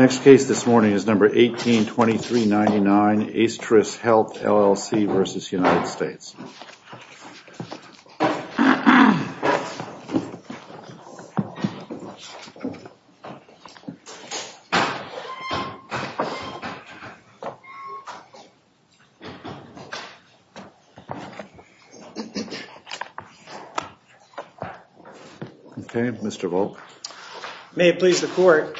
Okay, Mr. Volk. May it please the Court.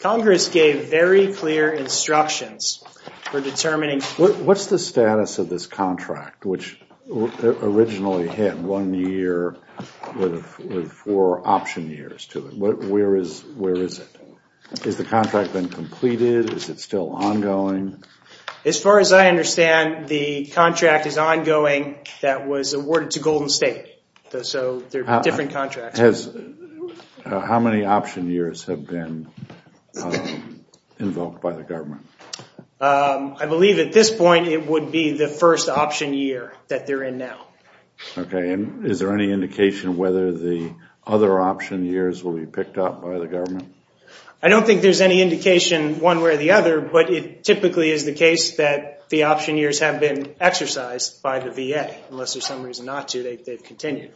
Congress gave very clear and clear instructions for determining. What's the status of this contract, which originally had one year with four option years to it? Where is it? Has the contract been completed? Is it still ongoing? As far as I understand, the contract is ongoing that was awarded to Golden State. So there are different contracts. How many option years have been invoked by the government? I believe at this point it would be the first option year that they're in now. Okay, and is there any indication whether the other option years will be picked up by the government? I don't think there's any indication one way or the other, but it typically is the case that the option years have been exercised by the VA. Unless there's some reason not to, they've continued.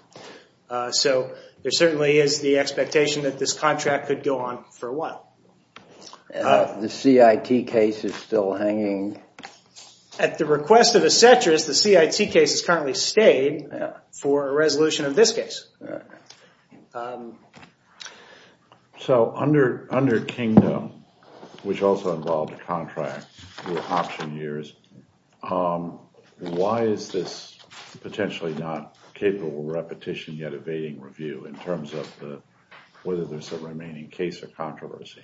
So there certainly is the expectation that this CIT case is still hanging. At the request of Acetris, the CIT case has currently stayed for a resolution of this case. So under Kingdom, which also involved a contract with option years, why is this potentially not capable of repetition yet evading review in terms of whether there's a remaining case or controversy?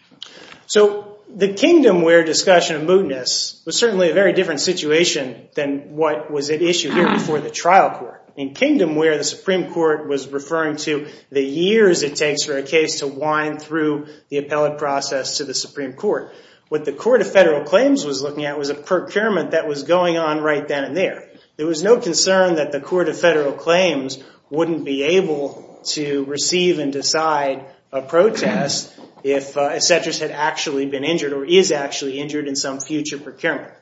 So the Kingdom where discussion of mootness was certainly a very different situation than what was at issue here before the trial court. In Kingdom where the Supreme Court was referring to the years it takes for a case to wind through the appellate process to the Supreme Court, what the Court of Federal Claims was looking at was a procurement that was going on right then and there. There was no concern that the Court of Federal Claims wouldn't be able to receive and decide a protest if Acetris had actually been injured or is actually injured in some future procurement.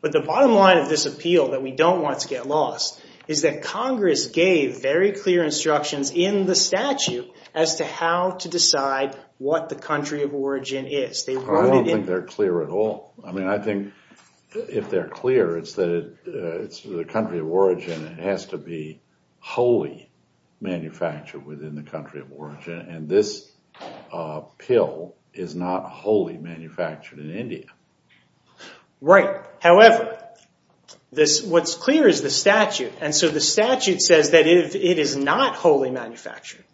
But the bottom line of this appeal that we don't want to get lost is that Congress gave very clear instructions in the statute as to how to decide what the country of origin is. I don't think they're clear at all. I mean, I think if they're clear, it's that it's the country of origin. It has to be wholly manufactured within the country of origin. And this pill is not wholly manufactured in India. Right. However, what's clear is the statute. And so the statute says that if it is not wholly manufactured,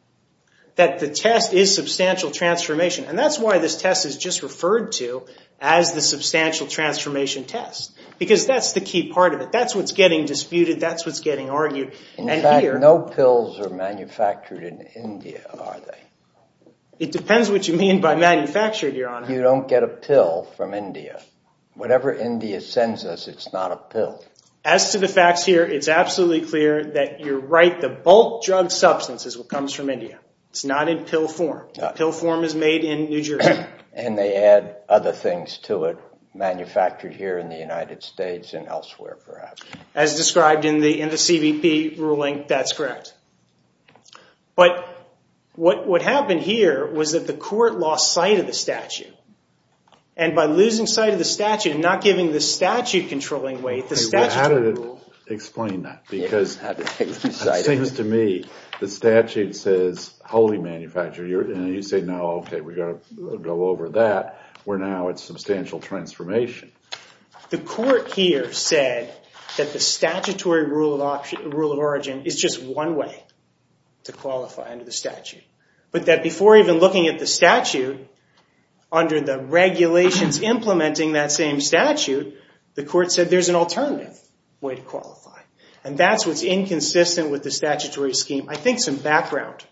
that the test is substantial transformation. And that's why this test is just referred to as the substantial transformation test, because that's the key part of it. That's what's getting disputed. That's what's getting argued. In fact, no pills are manufactured in India, are they? It depends what you mean by manufactured, Your Honor. You don't get a pill from India. Whatever India sends us, it's not a pill. As to the facts here, it's absolutely clear that you're right. The bulk drug substance is what comes from India. It's not in pill form. The pill form is made in New Jersey. And they add other things to it, manufactured here in the United States and elsewhere, perhaps. As described in the CBP ruling, that's correct. But what happened here was that the court lost sight of the statute. And by losing sight of the statute and not giving the statute controlling weight, the statute ruled. Well, how did it explain that? Because it seems to me the statute says wholly manufactured. And you say, no, OK, we've got to go over that, where now it's substantial transformation. The court here said that the statutory rule of origin is just one way to qualify under the statute. But that before even looking at the statute, under the regulations implementing that same statute, the court said there's an alternative way to qualify. And that's what's inconsistent with the statutory scheme. I think some background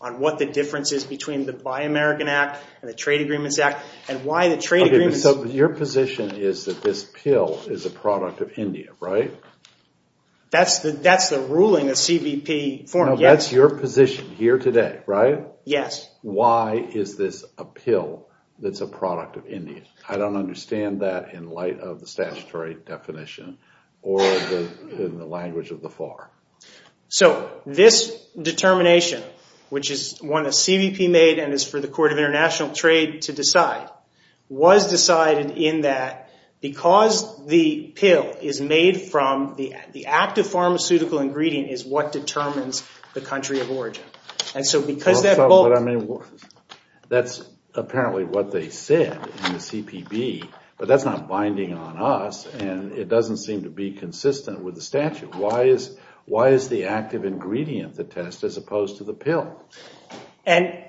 on what the difference is between the Buy American Act and the Trade Agreements Act, and why the trade agreements. Your position is that this pill is a product of India, right? That's the ruling of CBP form, yes. That's your position here today, right? Yes. Why is this a pill that's a product of India? I don't understand that in light of the statutory definition or in the language of the FAR. So this determination, which is one that CBP made and is for the Court of International Trade to decide, was decided in that because the pill is made from the active pharmaceutical ingredient is what determines the country of origin. And so because that bulk... That's apparently what they said in the CPB, but that's not binding on us, and it doesn't seem to be consistent with the statute. Why is the active ingredient the test as opposed to the pill? And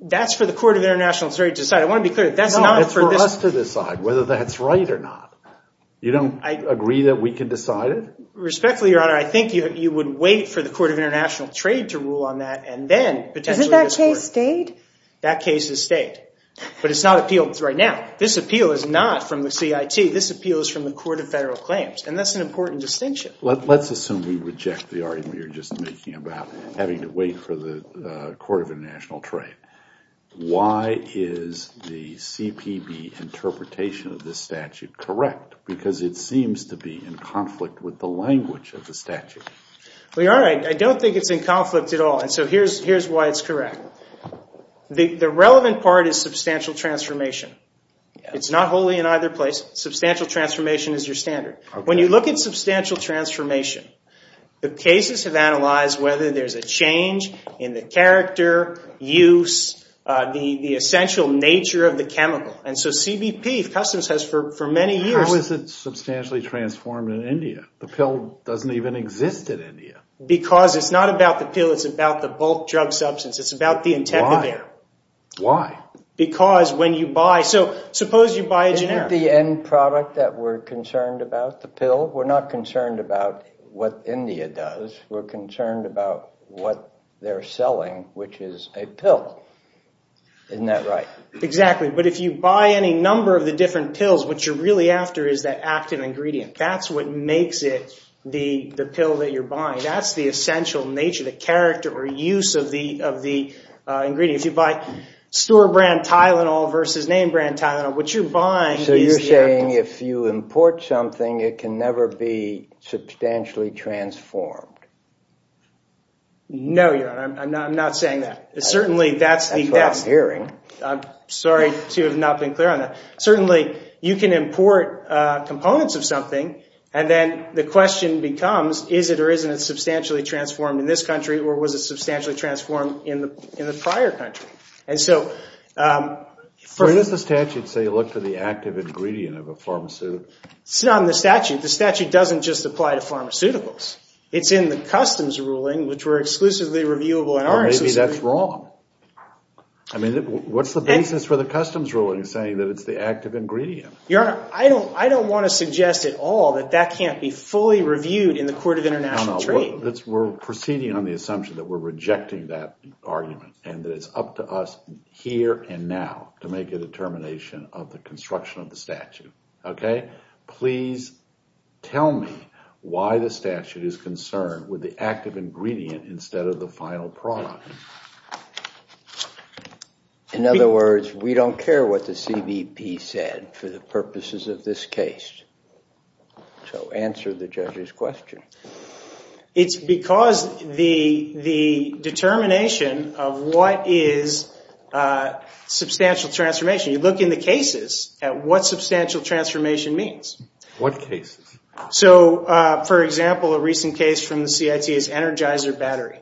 that's for the Court of International Trade to decide. I want to be clear, that's not for this... No, it's for us to decide whether that's right or not. You don't agree that we can decide it? Respectfully, Your Honor, I think you would wait for the Court of International Trade to rule on that, and then potentially this court... Isn't that case state? That case is state. But it's not appealed right now. This appeal is not from the CIT. This appeal is from the Court of Federal Claims, and that's an important distinction. Let's assume we reject the argument you're just making about having to wait for the Court of International Trade. Why is the CPB interpretation of this statute correct? Because it seems to be in conflict with the language of the statute. Well, Your Honor, I don't think it's in conflict at all, and so here's why it's correct. The substantial transformation is your standard. When you look at substantial transformation, the cases have analyzed whether there's a change in the character, use, the essential nature of the chemical. And so CBP, Customs has for many years... How is it substantially transformed in India? The pill doesn't even exist in India. Because it's not about the pill, it's about the bulk drug substance. It's about the intent of the... Why? Why? Because when you buy... So suppose you buy a generic... Not the end product that we're concerned about, the pill. We're not concerned about what India does. We're concerned about what they're selling, which is a pill. Isn't that right? Exactly. But if you buy any number of the different pills, what you're really after is that active ingredient. That's what makes it the pill that you're buying. That's the essential nature, the character or use of the ingredient. If you buy store brand Tylenol versus name brand Tylenol, what you're buying is the active... So you're saying if you import something, it can never be substantially transformed? No, Your Honor. I'm not saying that. Certainly, that's the... That's what I'm hearing. I'm sorry to have not been clear on that. Certainly, you can import components of something, and then the question becomes, is it or isn't it substantially transformed in this country, or was it substantially transformed in the prior country? Does the statute say look for the active ingredient of a pharmaceutical? It's not in the statute. The statute doesn't just apply to pharmaceuticals. It's in the customs ruling, which were exclusively reviewable in our... Maybe that's wrong. I mean, what's the basis for the customs ruling saying that it's the active ingredient? Your Honor, I don't want to suggest at all that that can't be fully reviewed in the Court of International Trade. No, no. We're proceeding on the assumption that we're rejecting that argument, and that it's up to us here and now to make a determination of the construction of the statute. Okay? Please tell me why the statute is concerned with the active ingredient instead of the final product. In other words, we don't care what the CBP said for the purposes of this case. So answer the judge's question. It's because the determination of what is substantial transformation. You look in the cases at what substantial transformation means. What cases? So for example, a recent case from the CIT is Energizer Battery.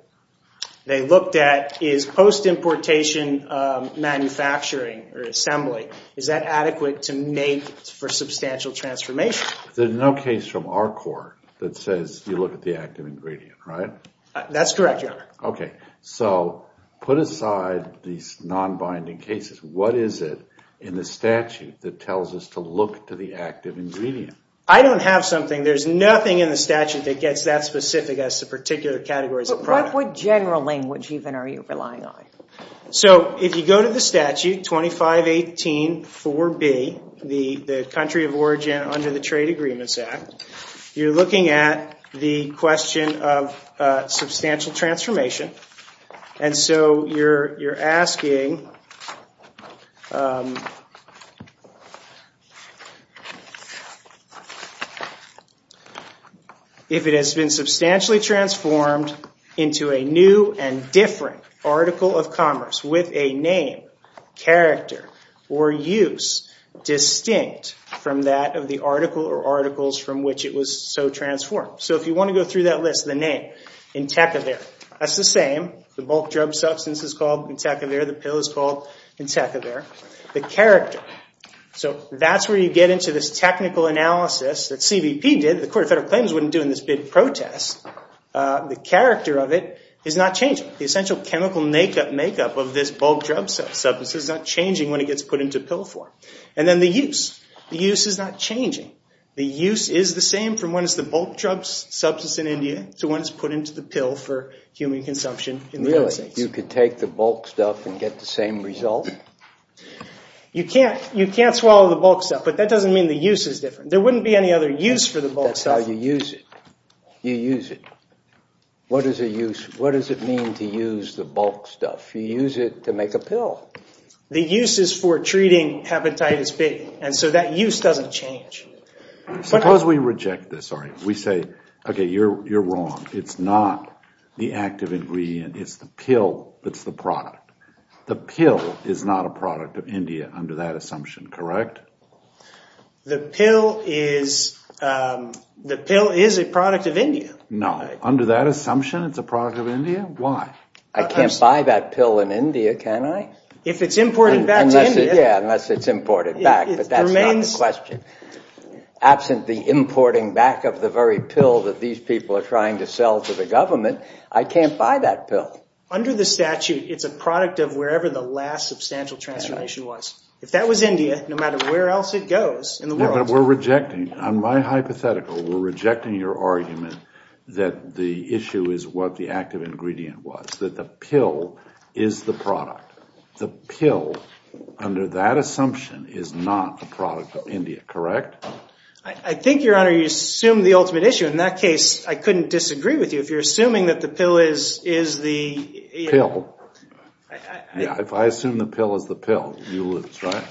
They looked at is post-importation manufacturing or assembly, is that adequate to make for substantial transformation? There's no case from our court that says you look at the active ingredient, right? That's correct, Your Honor. Okay. So put aside these non-binding cases. What is it in the statute that tells us to look to the active ingredient? I don't have something. There's nothing in the statute that gets that specific as to particular categories of product. But what general language even are you relying on? So if you go to the statute 2518-4B, the country of origin under the Trade Agreements Act, you're looking at the question of substantial transformation. And so you're asking if it has been substantially transformed into a new and different article of commerce with a name, character, or use distinct from that of the article or articles from which it was so transformed. So if you want to go through that list, the name, Intekavir. That's the same. The bulk drug substance is called Intekavir. The pill is called Intekavir. The character. So that's where you get into this technical analysis that CVP did. The Court of Federal Claims wouldn't do in this big protest. The character of it is not changing. The essential chemical makeup of this bulk drug substance is not changing when it gets put into pill form. And then the use. The use is not changing. The use is the same from when it's the bulk drug substance in India to when it's put into the pill for human consumption in the United States. You could take the bulk stuff and get the same result? You can't swallow the bulk stuff, but that doesn't mean the use is different. There wouldn't be any other use for the bulk stuff. But that's how you use it. You use it. What does it mean to use the bulk stuff? You use it to make a pill. The use is for treating hepatitis B. And so that use doesn't change. Suppose we reject this. We say, OK, you're wrong. It's not the active ingredient. It's the pill that's the product. The pill is not a product of India under that assumption, correct? The pill is a product of India. No. Under that assumption, it's a product of India? Why? I can't buy that pill in India, can I? If it's imported back to India. Yeah, unless it's imported back. But that's not the question. Absent the importing back of the very pill that these people are trying to sell to the government, I can't buy that pill. Under the statute, it's a product of wherever the last substantial transformation was. If that was India, no matter where else it goes in the world. Yeah, but we're rejecting, on my hypothetical, we're rejecting your argument that the issue is what the active ingredient was. That the pill is the product. The pill, under that assumption, is not a product of India, correct? I think, Your Honor, you assume the ultimate issue. In that case, I couldn't disagree with you. If you're assuming that the pill is the... Yeah, if I assume the pill is the pill, you lose, right?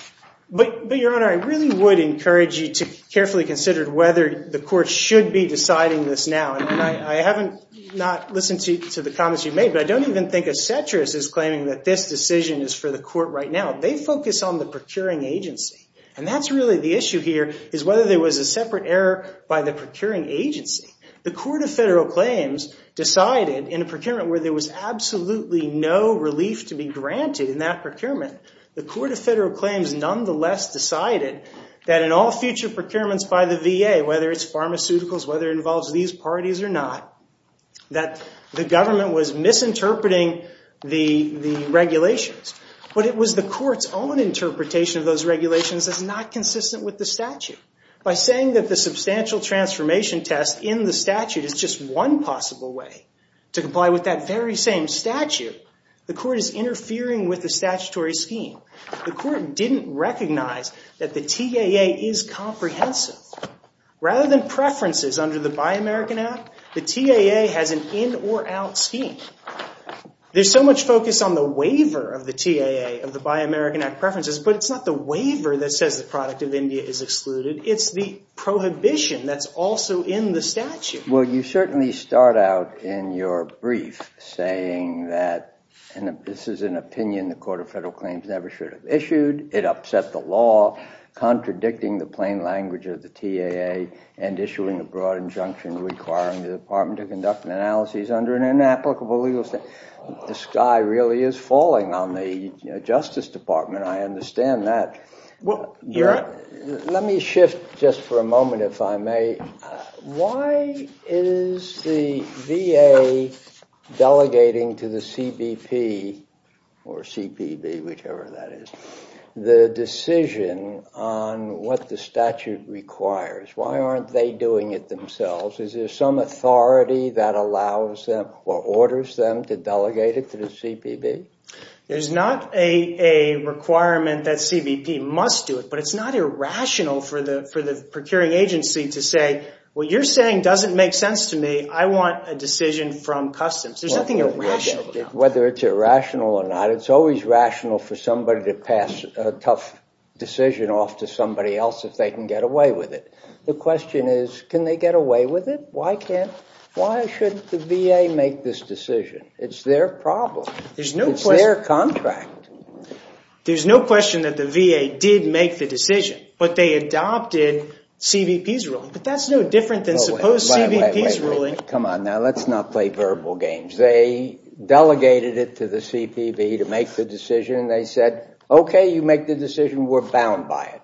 But, Your Honor, I really would encourage you to carefully consider whether the court should be deciding this now. I haven't not listened to the comments you've made, but I don't even think a citrus is claiming that this decision is for the court right now. They focus on the procuring agency. And that's really the issue here, is whether there was a separate error by the procuring agency. The Court of Federal Claims decided, in a relief to be granted in that procurement, the Court of Federal Claims, nonetheless, decided that in all future procurements by the VA, whether it's pharmaceuticals, whether it involves these parties or not, that the government was misinterpreting the regulations. But it was the court's own interpretation of those regulations that's not consistent with the statute. By saying that the substantial transformation test in the statute is just one possible way to comply with that very same statute, the court is interfering with the statutory scheme. The court didn't recognize that the TAA is comprehensive. Rather than preferences under the Buy American Act, the TAA has an in-or-out scheme. There's so much focus on the waiver of the TAA of the Buy American Act preferences, but it's not the waiver that says the product of India is excluded. It's the prohibition that's also in the statute. Well, you certainly start out in your brief saying that this is an opinion the Court of Federal Claims never should have issued, it upset the law, contradicting the plain language of the TAA, and issuing a broad injunction requiring the Department of Conduct and Analysis under an inapplicable legal statute. The sky really is falling on the Justice Department. I understand that. Well, you're right. Let me shift just for a moment, if I may. Why is the VA delegating to the CBP or CBP, whichever that is, the decision on what the statute requires? Why aren't they doing it themselves? Is there some authority that allows them or orders them to delegate it to the CBP? There's not a requirement that CBP must do it, but it's not irrational for the procuring agency to say, what you're saying doesn't make sense to me. I want a decision from customs. There's nothing irrational about it. Whether it's irrational or not, it's always rational for somebody to pass a tough decision off to somebody else if they can get away with it. The question is, can they get away with it? Why can't, why shouldn't the VA make this decision? It's their problem. It's their contract. There's no question that the VA did make the decision, but they adopted CBP's ruling. But that's no different than suppose CBP's ruling. Come on now, let's not play verbal games. They delegated it to the CBP to make the decision and they said, OK, you make the decision. We're bound by it.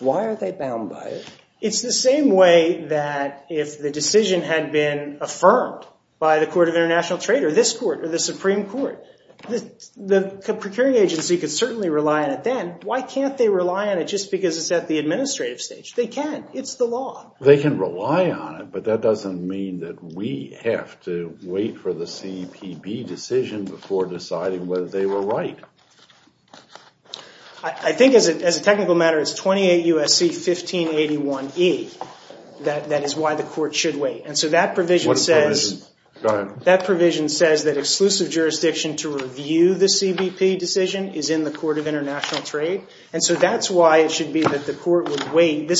Why are they bound by it? It's the same way that if the decision had been affirmed by the Court of International Trade or this Court or the Supreme Court, the procuring agency could certainly rely on it then. Why can't they rely on it just because it's at the administrative stage? They can. It's the law. They can rely on it, but that doesn't mean that we have to wait for the CBP decision before deciding whether they were right. I think as a technical matter, it's 28 U.S.C. 1581E that is why the court should wait. And so that provision says that exclusive jurisdiction to review the CBP decision is in the Court of International Trade. And so that's why it should be that this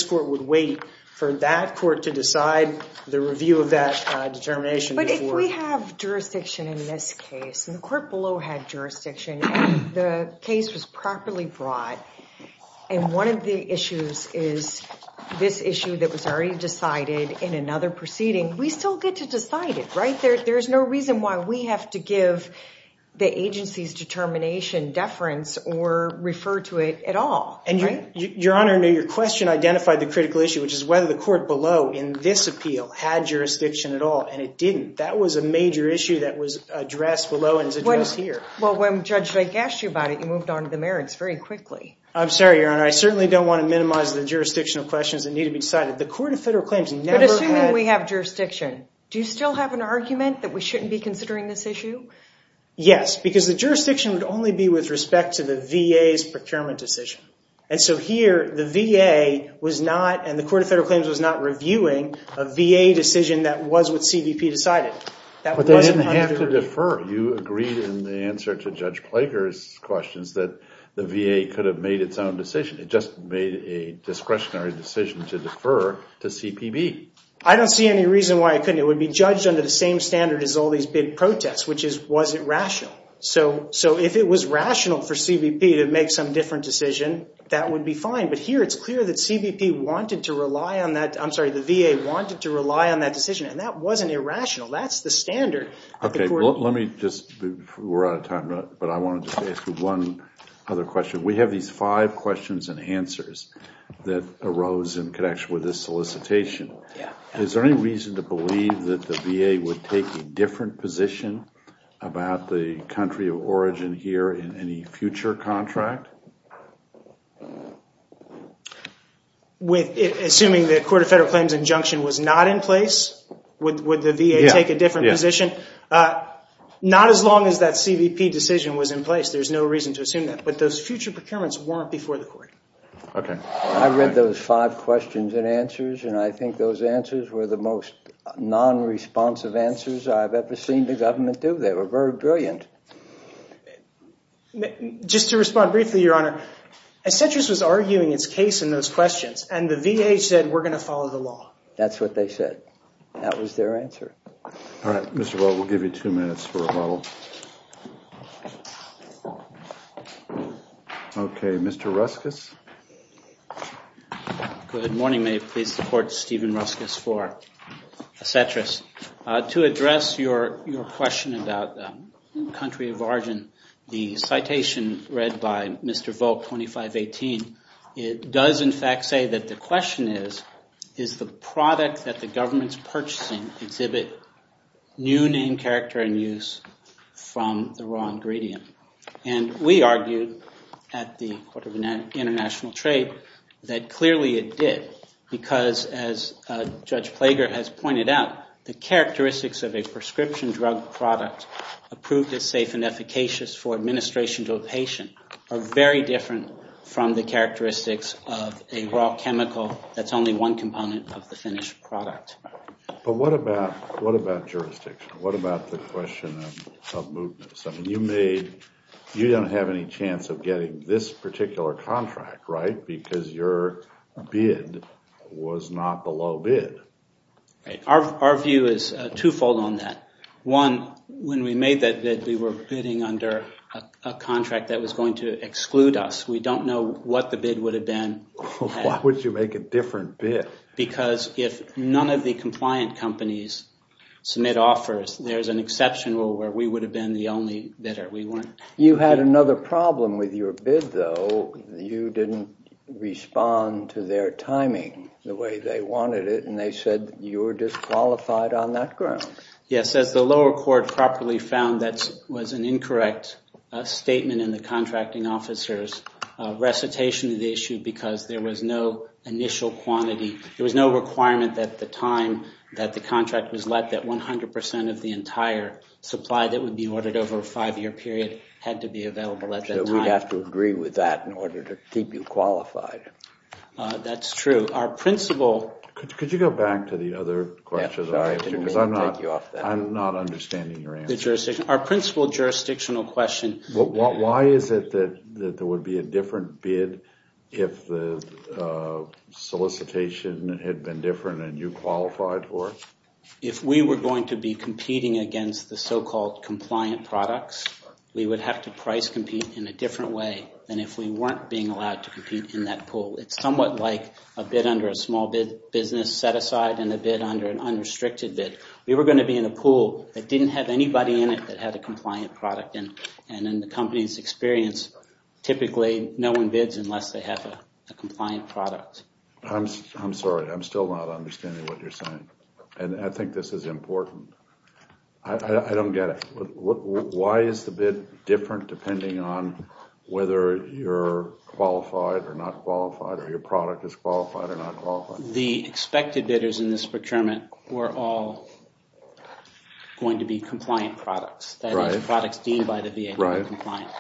court would wait for that court to decide the review of that determination. But if we have jurisdiction in this case, and the court below had jurisdiction, and the case was properly brought, and one of the issues is this issue that was already decided in another proceeding, we still get to decide it, right? There's no reason why we have to give the agency's determination deference or refer to it at all. Your Honor, your question identified the critical issue, which is whether the court below in this appeal had jurisdiction at all, and it didn't. That was a major issue that was addressed below and is addressed here. Well, when Judge Blake asked you about it, you moved on to the merits very quickly. I'm sorry, Your Honor. I certainly don't want to minimize the jurisdictional questions that need to be decided. The Court of Federal Claims never had... But assuming we have jurisdiction, do you still have an argument that we shouldn't be considering this issue? Yes, because the jurisdiction would only be with respect to the VA's procurement decision. And so here, the VA was not, and the Court of Federal Claims was not reviewing a VA decision that was what CBP decided. But they didn't have to defer. You agreed in the answer to Judge Plager's questions that the VA could have made its own decision. It just made a discretionary decision to defer to CPB. I don't see any reason why it couldn't. It would be judged under the same standard as all these big protests, which is, was it rational? So if it was rational for CBP to make some different decision, that would be fine. But here, it's clear that CBP wanted to rely on that. I'm sorry, the VA wanted to rely on that decision, and that wasn't irrational. That's the standard. We're out of time, but I wanted to ask you one other question. We have these five questions and answers that arose in connection with this solicitation. Is there any reason to believe that the VA would take a different position about the country of origin here in any future contract? Assuming the Court of Federal Claims injunction was not in place, would the VA take a different position? Not as long as that CBP decision was in place. There's no reason to assume that. But those future procurements weren't before the Court. Okay. I read those five questions and answers, and I think those answers were the most non-responsive answers I've ever seen the government do. They were very brilliant. Just to respond briefly, Your Honor, Citrus was arguing its case in those questions, and the VA said, we're going to follow the law. That's what they said. That was their answer. All right. Mr. Volk, we'll give you two minutes for rebuttal. Okay. Mr. Ruskus? Good morning. May it please the Court, Stephen Ruskus for Citrus. To address your question about the country of origin, the citation read by Mr. Volk, 2518, it does in fact say that the question is, is the product that the government's purchasing exhibit new name, character, and use from the raw ingredient? And we argued at the Court of International Trade that clearly it did, because as Judge Plager has pointed out, the characteristics of a prescription drug product approved as safe and efficacious for administration to a patient are very different from the characteristics of a raw chemical that's only one component of the finished product. But what about jurisdiction? What about the question of mootness? I mean, you don't have any chance of getting this particular contract, right? Because your bid was not the low bid. Our view is twofold on that. One, when we made that bid, we were bidding under a contract that was going to exclude us. We don't know what the bid would have been. Why would you make a different bid? Because if none of the compliant companies submit offers, there's an exception where we would have been the only bidder. You had another problem with your bid, though. You didn't respond to their timing the way they wanted it, and they said you were disqualified on that ground. Yes, as the lower court properly found, that was an incorrect statement in the contracting officer's recitation of the issue because there was no initial quantity. There was no requirement at the time that the contract was let that 100% of the entire supply that would be ordered over a five-year period had to be available at that time. So we'd have to agree with that in order to keep you qualified. That's true. Could you go back to the other question? I'm not understanding your answer. Our principal jurisdictional question. Why is it that there would be a different bid if the solicitation had been different and you qualified for it? If we were going to be competing against the so-called compliant products, we would have to price compete in a different way than if we weren't being allowed to compete in that pool. It's somewhat like a bid under a small business set-aside and a bid under an unrestricted bid. We were going to be in a pool that didn't have anybody in it that had a compliant product. And in the company's experience, typically no one bids unless they have a compliant product. I'm sorry. I'm still not understanding what you're saying. And I think this is important. I don't get it. Why is the bid different depending on whether you're qualified or not qualified or your product is qualified or not qualified? The expected bidders in this procurement were all going to be compliant products, that is, products deemed by the VA to be compliant.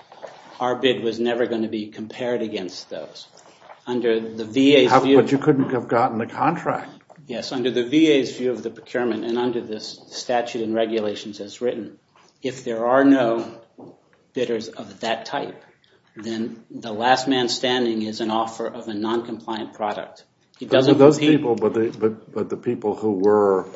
Our bid was never going to be compared against those. But you couldn't have gotten the contract. Yes. Under the VA's view of the procurement and under the statute and regulations as written, if there are no bidders of that type, then the last man standing is an offer of a non-compliant product. Those people, but the people who were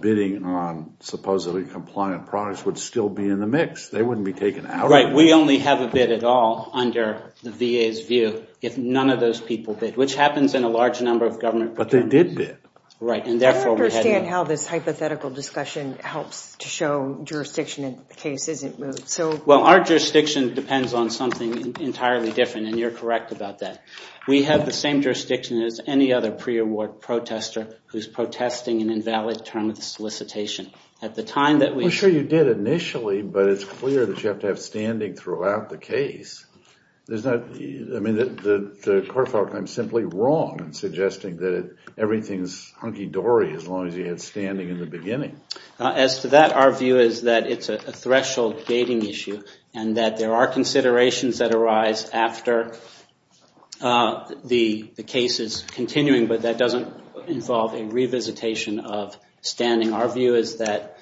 bidding on supposedly compliant products would still be in the mix. They wouldn't be taken out. Right. We only have a bid at all under the VA's view if none of those people bid, which happens in a large number of government procurement. But they did bid. Right. And therefore, we had to. I don't understand how this hypothetical discussion helps to show jurisdiction in the case isn't moved. Well, our jurisdiction depends on something entirely different, and you're correct about that. We have the same jurisdiction as any other pre-award protester who's protesting an invalid term of solicitation. At the time that we. I'm sure you did initially, but it's clear that you have to have standing throughout the case. There's not. I mean, the court found I'm simply wrong in suggesting that everything's hunky dory as long as you had standing in the beginning. As to that, our view is that it's a threshold gating issue and that there are cases continuing, but that doesn't involve a revisitation of standing. Our view is that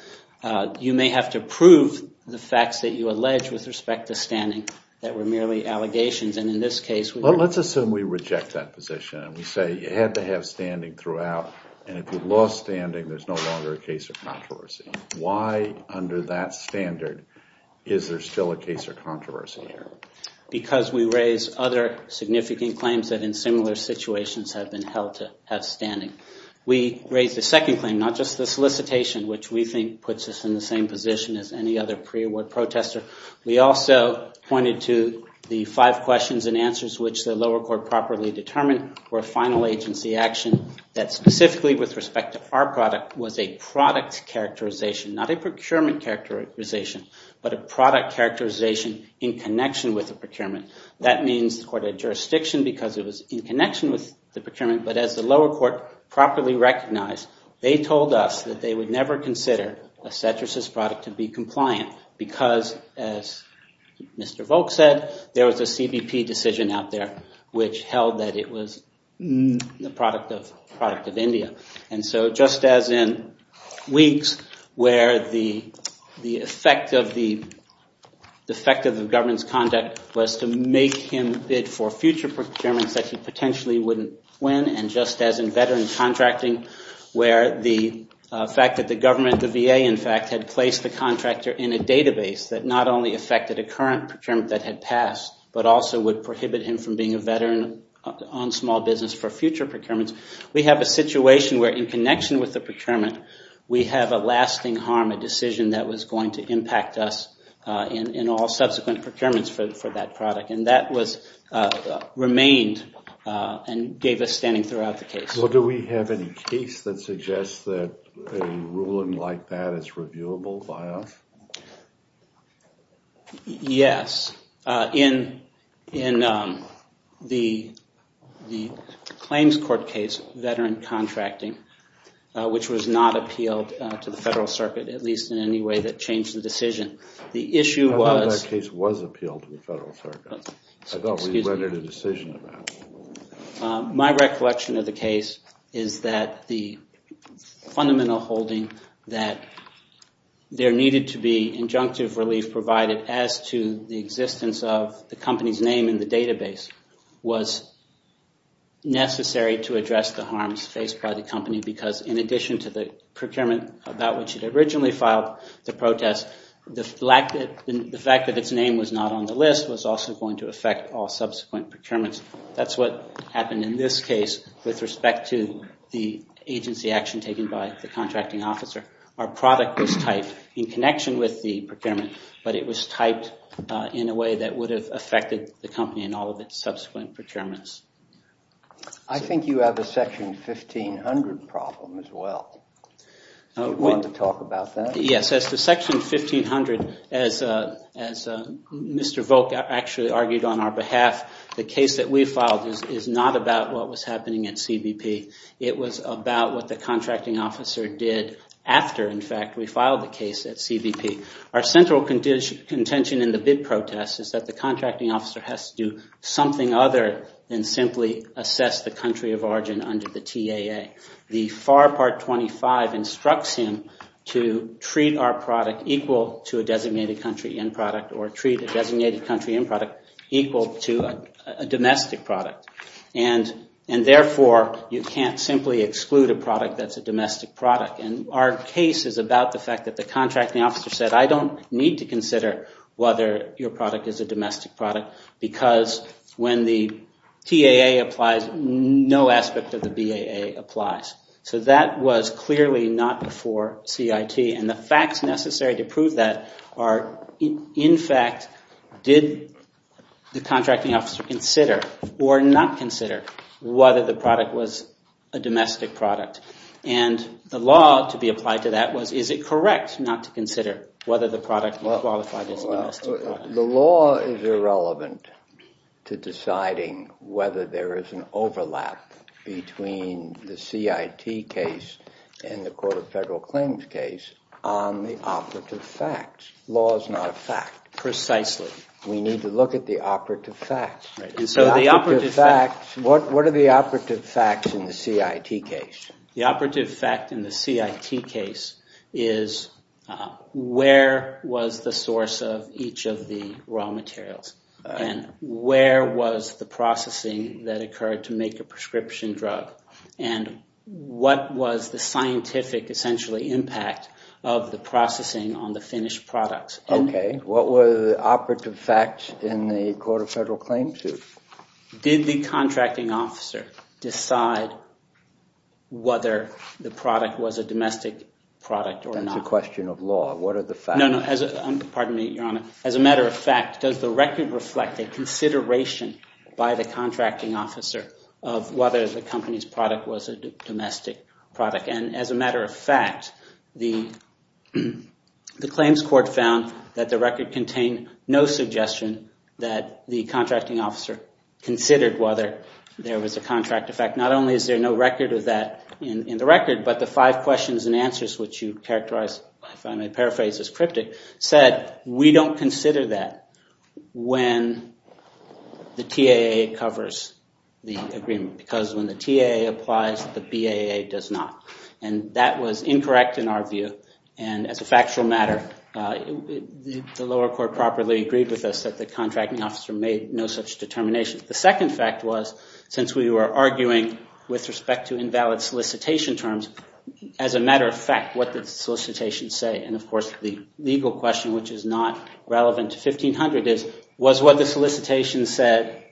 you may have to prove the facts that you allege with respect to standing that were merely allegations. And in this case. Well, let's assume we reject that position and we say you had to have standing throughout. And if you've lost standing, there's no longer a case of controversy. Why under that standard is there still a case of controversy here? Because we raise other significant claims that in similar situations have been held to have standing. We raise the second claim, not just the solicitation, which we think puts us in the same position as any other pre-award protester. We also pointed to the five questions and answers, which the lower court properly determined were final agency action that specifically with respect to our product was a product characterization, not a procurement characterization, but a product characterization in connection with the procurement. That means the court of jurisdiction, because it was in connection with the procurement, but as the lower court properly recognized, they told us that they would never consider a set versus product to be compliant because as Mr. Volk said, there was a CBP decision out there, which held that it was the product of product of India. And so just as in weeks where the, the effect of the, the effect of the government's conduct was to make him bid for future procurements that he potentially wouldn't win. And just as in veteran contracting where the fact that the government, the VA, in fact had placed the contractor in a database that not only affected a current procurement that had passed, but also would prohibit him from being a veteran on small business for future procurements. We have a situation where in connection with the procurement, we have a lasting harm, a decision that was going to impact us in, in all subsequent procurements for that product. And that was remained and gave us standing throughout the case. Well, do we have any case that suggests that a ruling like that is reviewable by us? Yes. In, in the, the claims court case, veteran contracting, which was not appealed to the federal circuit, at least in any way that changed the decision. The issue was. That case was appealed to the federal circuit. I thought we read a decision about it. My recollection of the case is that the fundamental holding that there needed to be injunctive relief provided as to the existence of the company's name in the database was necessary to address the harms faced by the company. Because in addition to the procurement about which it originally filed, the protest, the lack that the fact that its name was not on the list was also going to affect all subsequent procurements. That's what happened in this case with respect to the agency action taken by the contracting officer. Our product was typed in connection with the procurement, but it was typed in a way that would have affected the company and all of its subsequent procurements. I think you have a section 1500 problem as well. Do you want to talk about that? Yes. As to section 1500, as Mr. Volk actually argued on our behalf, the case that we filed is not about what was happening at CBP. It was about what the contracting officer did after, in fact, we filed the case at CBP. Our central contention in the bid protest is that the contracting officer has to do something other than simply assess the country of origin under the TAA. The FAR part 25 instructs him to treat our product equal to a designated country end product or treat a designated country end product equal to a domestic product. And therefore, you can't simply exclude a product that's a domestic product. And our case is about the fact that the contracting officer said, I don't need to consider whether your product is a domestic product. Because when the TAA applies, no aspect of the BAA applies. So that was clearly not before CIT. And the facts necessary to prove that are, in fact, did the contracting officer consider or not consider whether the product was a domestic product? And the law to be applied to that was, is it correct not to consider whether the product qualifies as a domestic product? The law is irrelevant to deciding whether there is an overlap between the CIT case and the Court of Federal Claims case on the operative facts. Law is not a fact. Precisely. We need to look at the operative facts. So the operative facts. What are the operative facts in the CIT case? The operative fact in the CIT case is, where was the source of each of the raw materials? And where was the processing that occurred to make a prescription drug? And what was the scientific, essentially, impact of the processing on the finished products? OK. What were the operative facts in the Court of Federal Claims case? Did the contracting officer decide whether the product was a domestic product or not? That's a question of law. What are the facts? No, no. Pardon me, Your Honor. As a matter of fact, does the record reflect a consideration by the contracting officer of whether the company's product was a domestic product? And as a matter of fact, the claims court found that the record contained no suggestion that the contractor considered whether there was a contract. In fact, not only is there no record of that in the record, but the five questions and answers which you characterized, if I may paraphrase this cryptic, said we don't consider that when the TAA covers the agreement. Because when the TAA applies, the BAA does not. And that was incorrect in our view. And as a factual matter, the lower court properly agreed with us that the contracting officer made no such determination. The second fact was, since we were arguing with respect to invalid solicitation terms, as a matter of fact, what did the solicitation say? And of course, the legal question, which is not relevant to 1500, is was what the solicitation said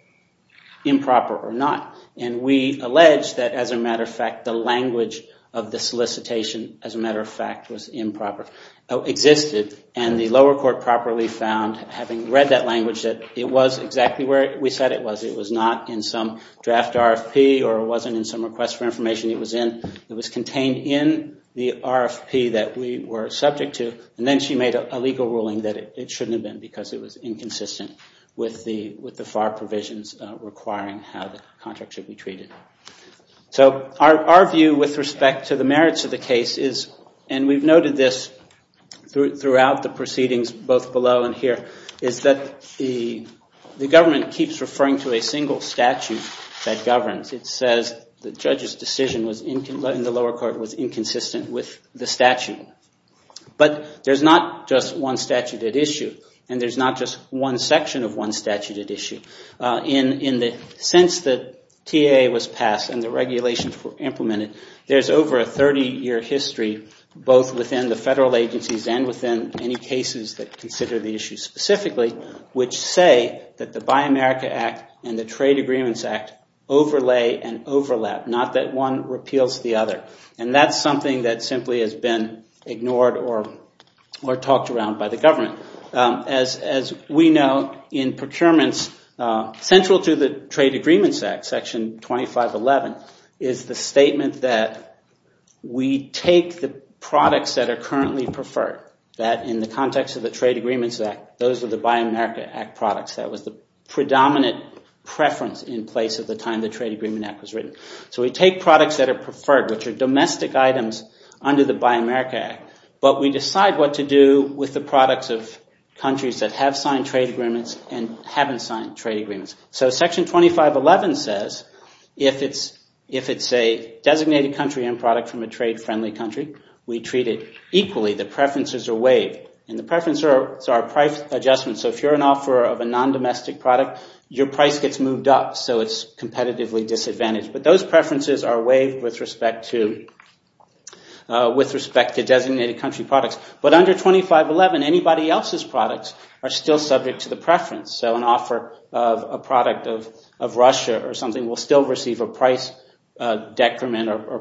improper or not? And we allege that, as a matter of fact, the language of the solicitation, as a matter of fact, was improper, existed. And the lower court properly found, having read that language, that it was exactly where we said it was. It was not in some draft RFP or it wasn't in some request for information. It was contained in the RFP that we were subject to. And then she made a legal ruling that it shouldn't have been because it was inconsistent with the FAR provisions requiring how the contract should be treated. So our view with respect to the merits of the case is, and we've noted this throughout the proceedings, both below and here, is that the government keeps referring to a single statute that governs. It says the judge's decision in the lower court was inconsistent with the statute. But there's not just one statute at issue and there's not just one section of one statute at issue. In the sense that TAA was passed and the regulations were implemented, there's over a 30-year history, both within the federal agencies and within any cases that consider the issue specifically, which say that the Buy America Act and the Trade Agreements Act overlay and overlap, not that one repeals the other. And that's something that simply has been ignored or talked around by the government. As we know, in procurements, central to the Trade Agreements Act, Section 2511, is the statement that we take the products that are currently preferred, that in the context of the Trade Agreements Act, those are the Buy America Act products. That was the predominant preference in place at the time the Trade Agreement Act was written. So we take products that are preferred, which are domestic items under the Buy America Act, but we decide what to do with the products of countries that have signed trade agreements and haven't signed trade agreements. So Section 2511 says, if it's a designated country and product from a trade-friendly country, we treat it equally, the preferences are waived. And the preferences are price adjustments. So if you're an offeror of a non-domestic product, your price gets moved up, so it's competitively disadvantaged. But those preferences are waived with respect to designated country products. But under 2511, anybody else's products are still subject to the preference. So an offer of a product of Russia or something will still receive a price detriment or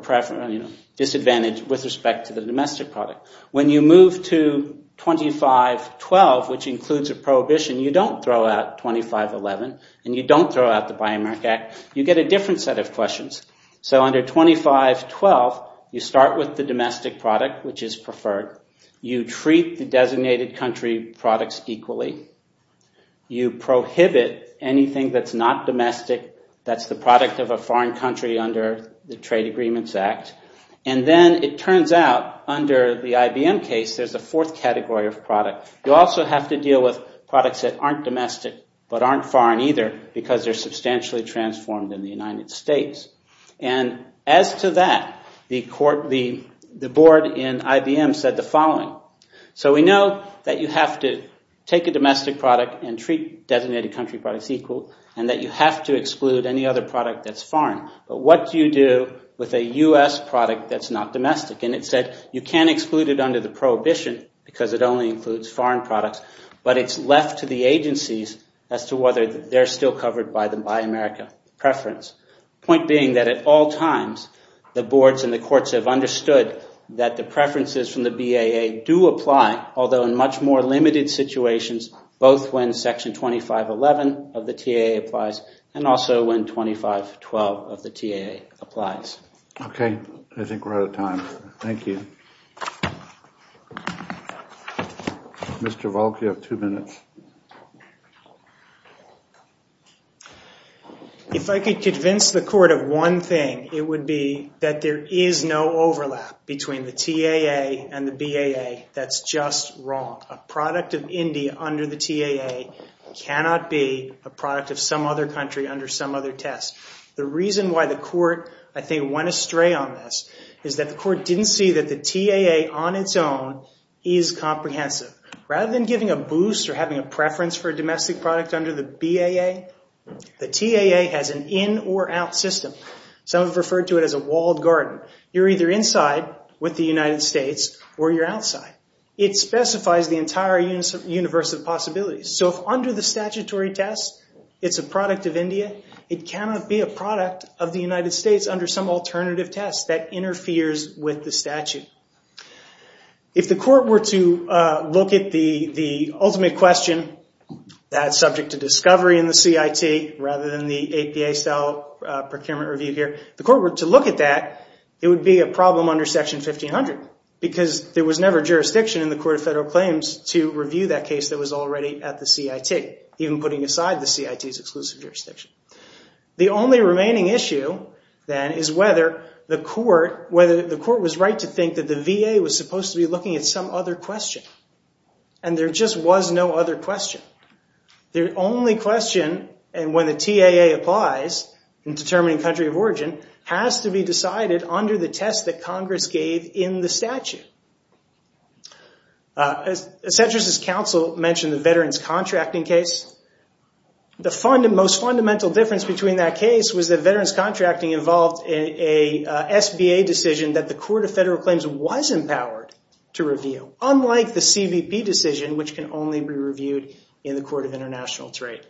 disadvantage with respect to the domestic product. When you move to 2512, which includes a prohibition, you don't throw out 2511, and you don't throw out the Buy America Act. You get a different set of questions. So under 2512, you start with the domestic product, which is preferred. You treat the designated country products equally. You prohibit anything that's not domestic, that's the product of a foreign country under the Trade Agreements Act. And then it turns out, under the IBM case, there's a fourth category of product. You also have to deal with products that aren't domestic, but aren't foreign either, because they're substantially transformed in the United States. And as to that, the board in IBM said the following. So we know that you have to take a domestic product and treat designated country products equally, and that you have to exclude any other product that's foreign. But what do you do with a U.S. product that's not domestic? And it said you can't exclude it under the prohibition, because it only includes foreign products, but it's left to the agencies as to whether they're still covered by the Buy America preference. Point being that at all times, the boards and the courts have understood that the preferences from the BAA do apply, although in much more limited situations, both when Section 2511 of the TAA applies, and also when 2512 of the TAA applies. Okay. I think we're out of time. Thank you. Mr. Volk, you have two minutes. If I could convince the court of one thing, it would be that there is no overlap between the TAA and the BAA. That's just wrong. A product of India under the TAA cannot be a product of some other country under some other test. The reason why the court, I think, went astray on this is that the court didn't see that the TAA on its own is comprehensive. Rather than giving a boost or having a preference for a domestic product under the BAA, the TAA has an in-or-out system. Some have referred to it as a walled garden. You're either inside with the United States or you're outside. It specifies the entire universe of possibilities. So if under the statutory test, it's a product of India, it cannot be a product of the United States under some alternative test that interferes with the statute. If the court were to look at the ultimate question that's subject to discovery in the CIT rather than the APA style procurement review here, if the court were to look at that, it would be a problem under Section 1500 because there was never jurisdiction in the Court of Federal Claims to review that case that was already at the CIT, even putting aside the CIT's exclusive jurisdiction. The only remaining issue, then, is whether the court was right to think that the VA was supposed to be looking at some other question. And there just was no other question. The only question, and when the TAA applies in determining country of origin, has to be decided under the test that Congress gave in the statute. As Cedric's counsel mentioned, the veterans contracting case, the most fundamental difference between that case was that veterans contracting involved a SBA decision that the Court of Federal Claims was empowered to review, unlike the CBP decision, which can only be reviewed in the Court of International Trade.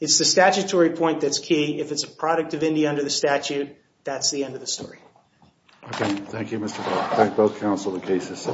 It's the statutory point that's key if it's a product of Indy under the statute. That's the end of the story. Okay, thank you, Mr. Cole. Thank both counsel and cases.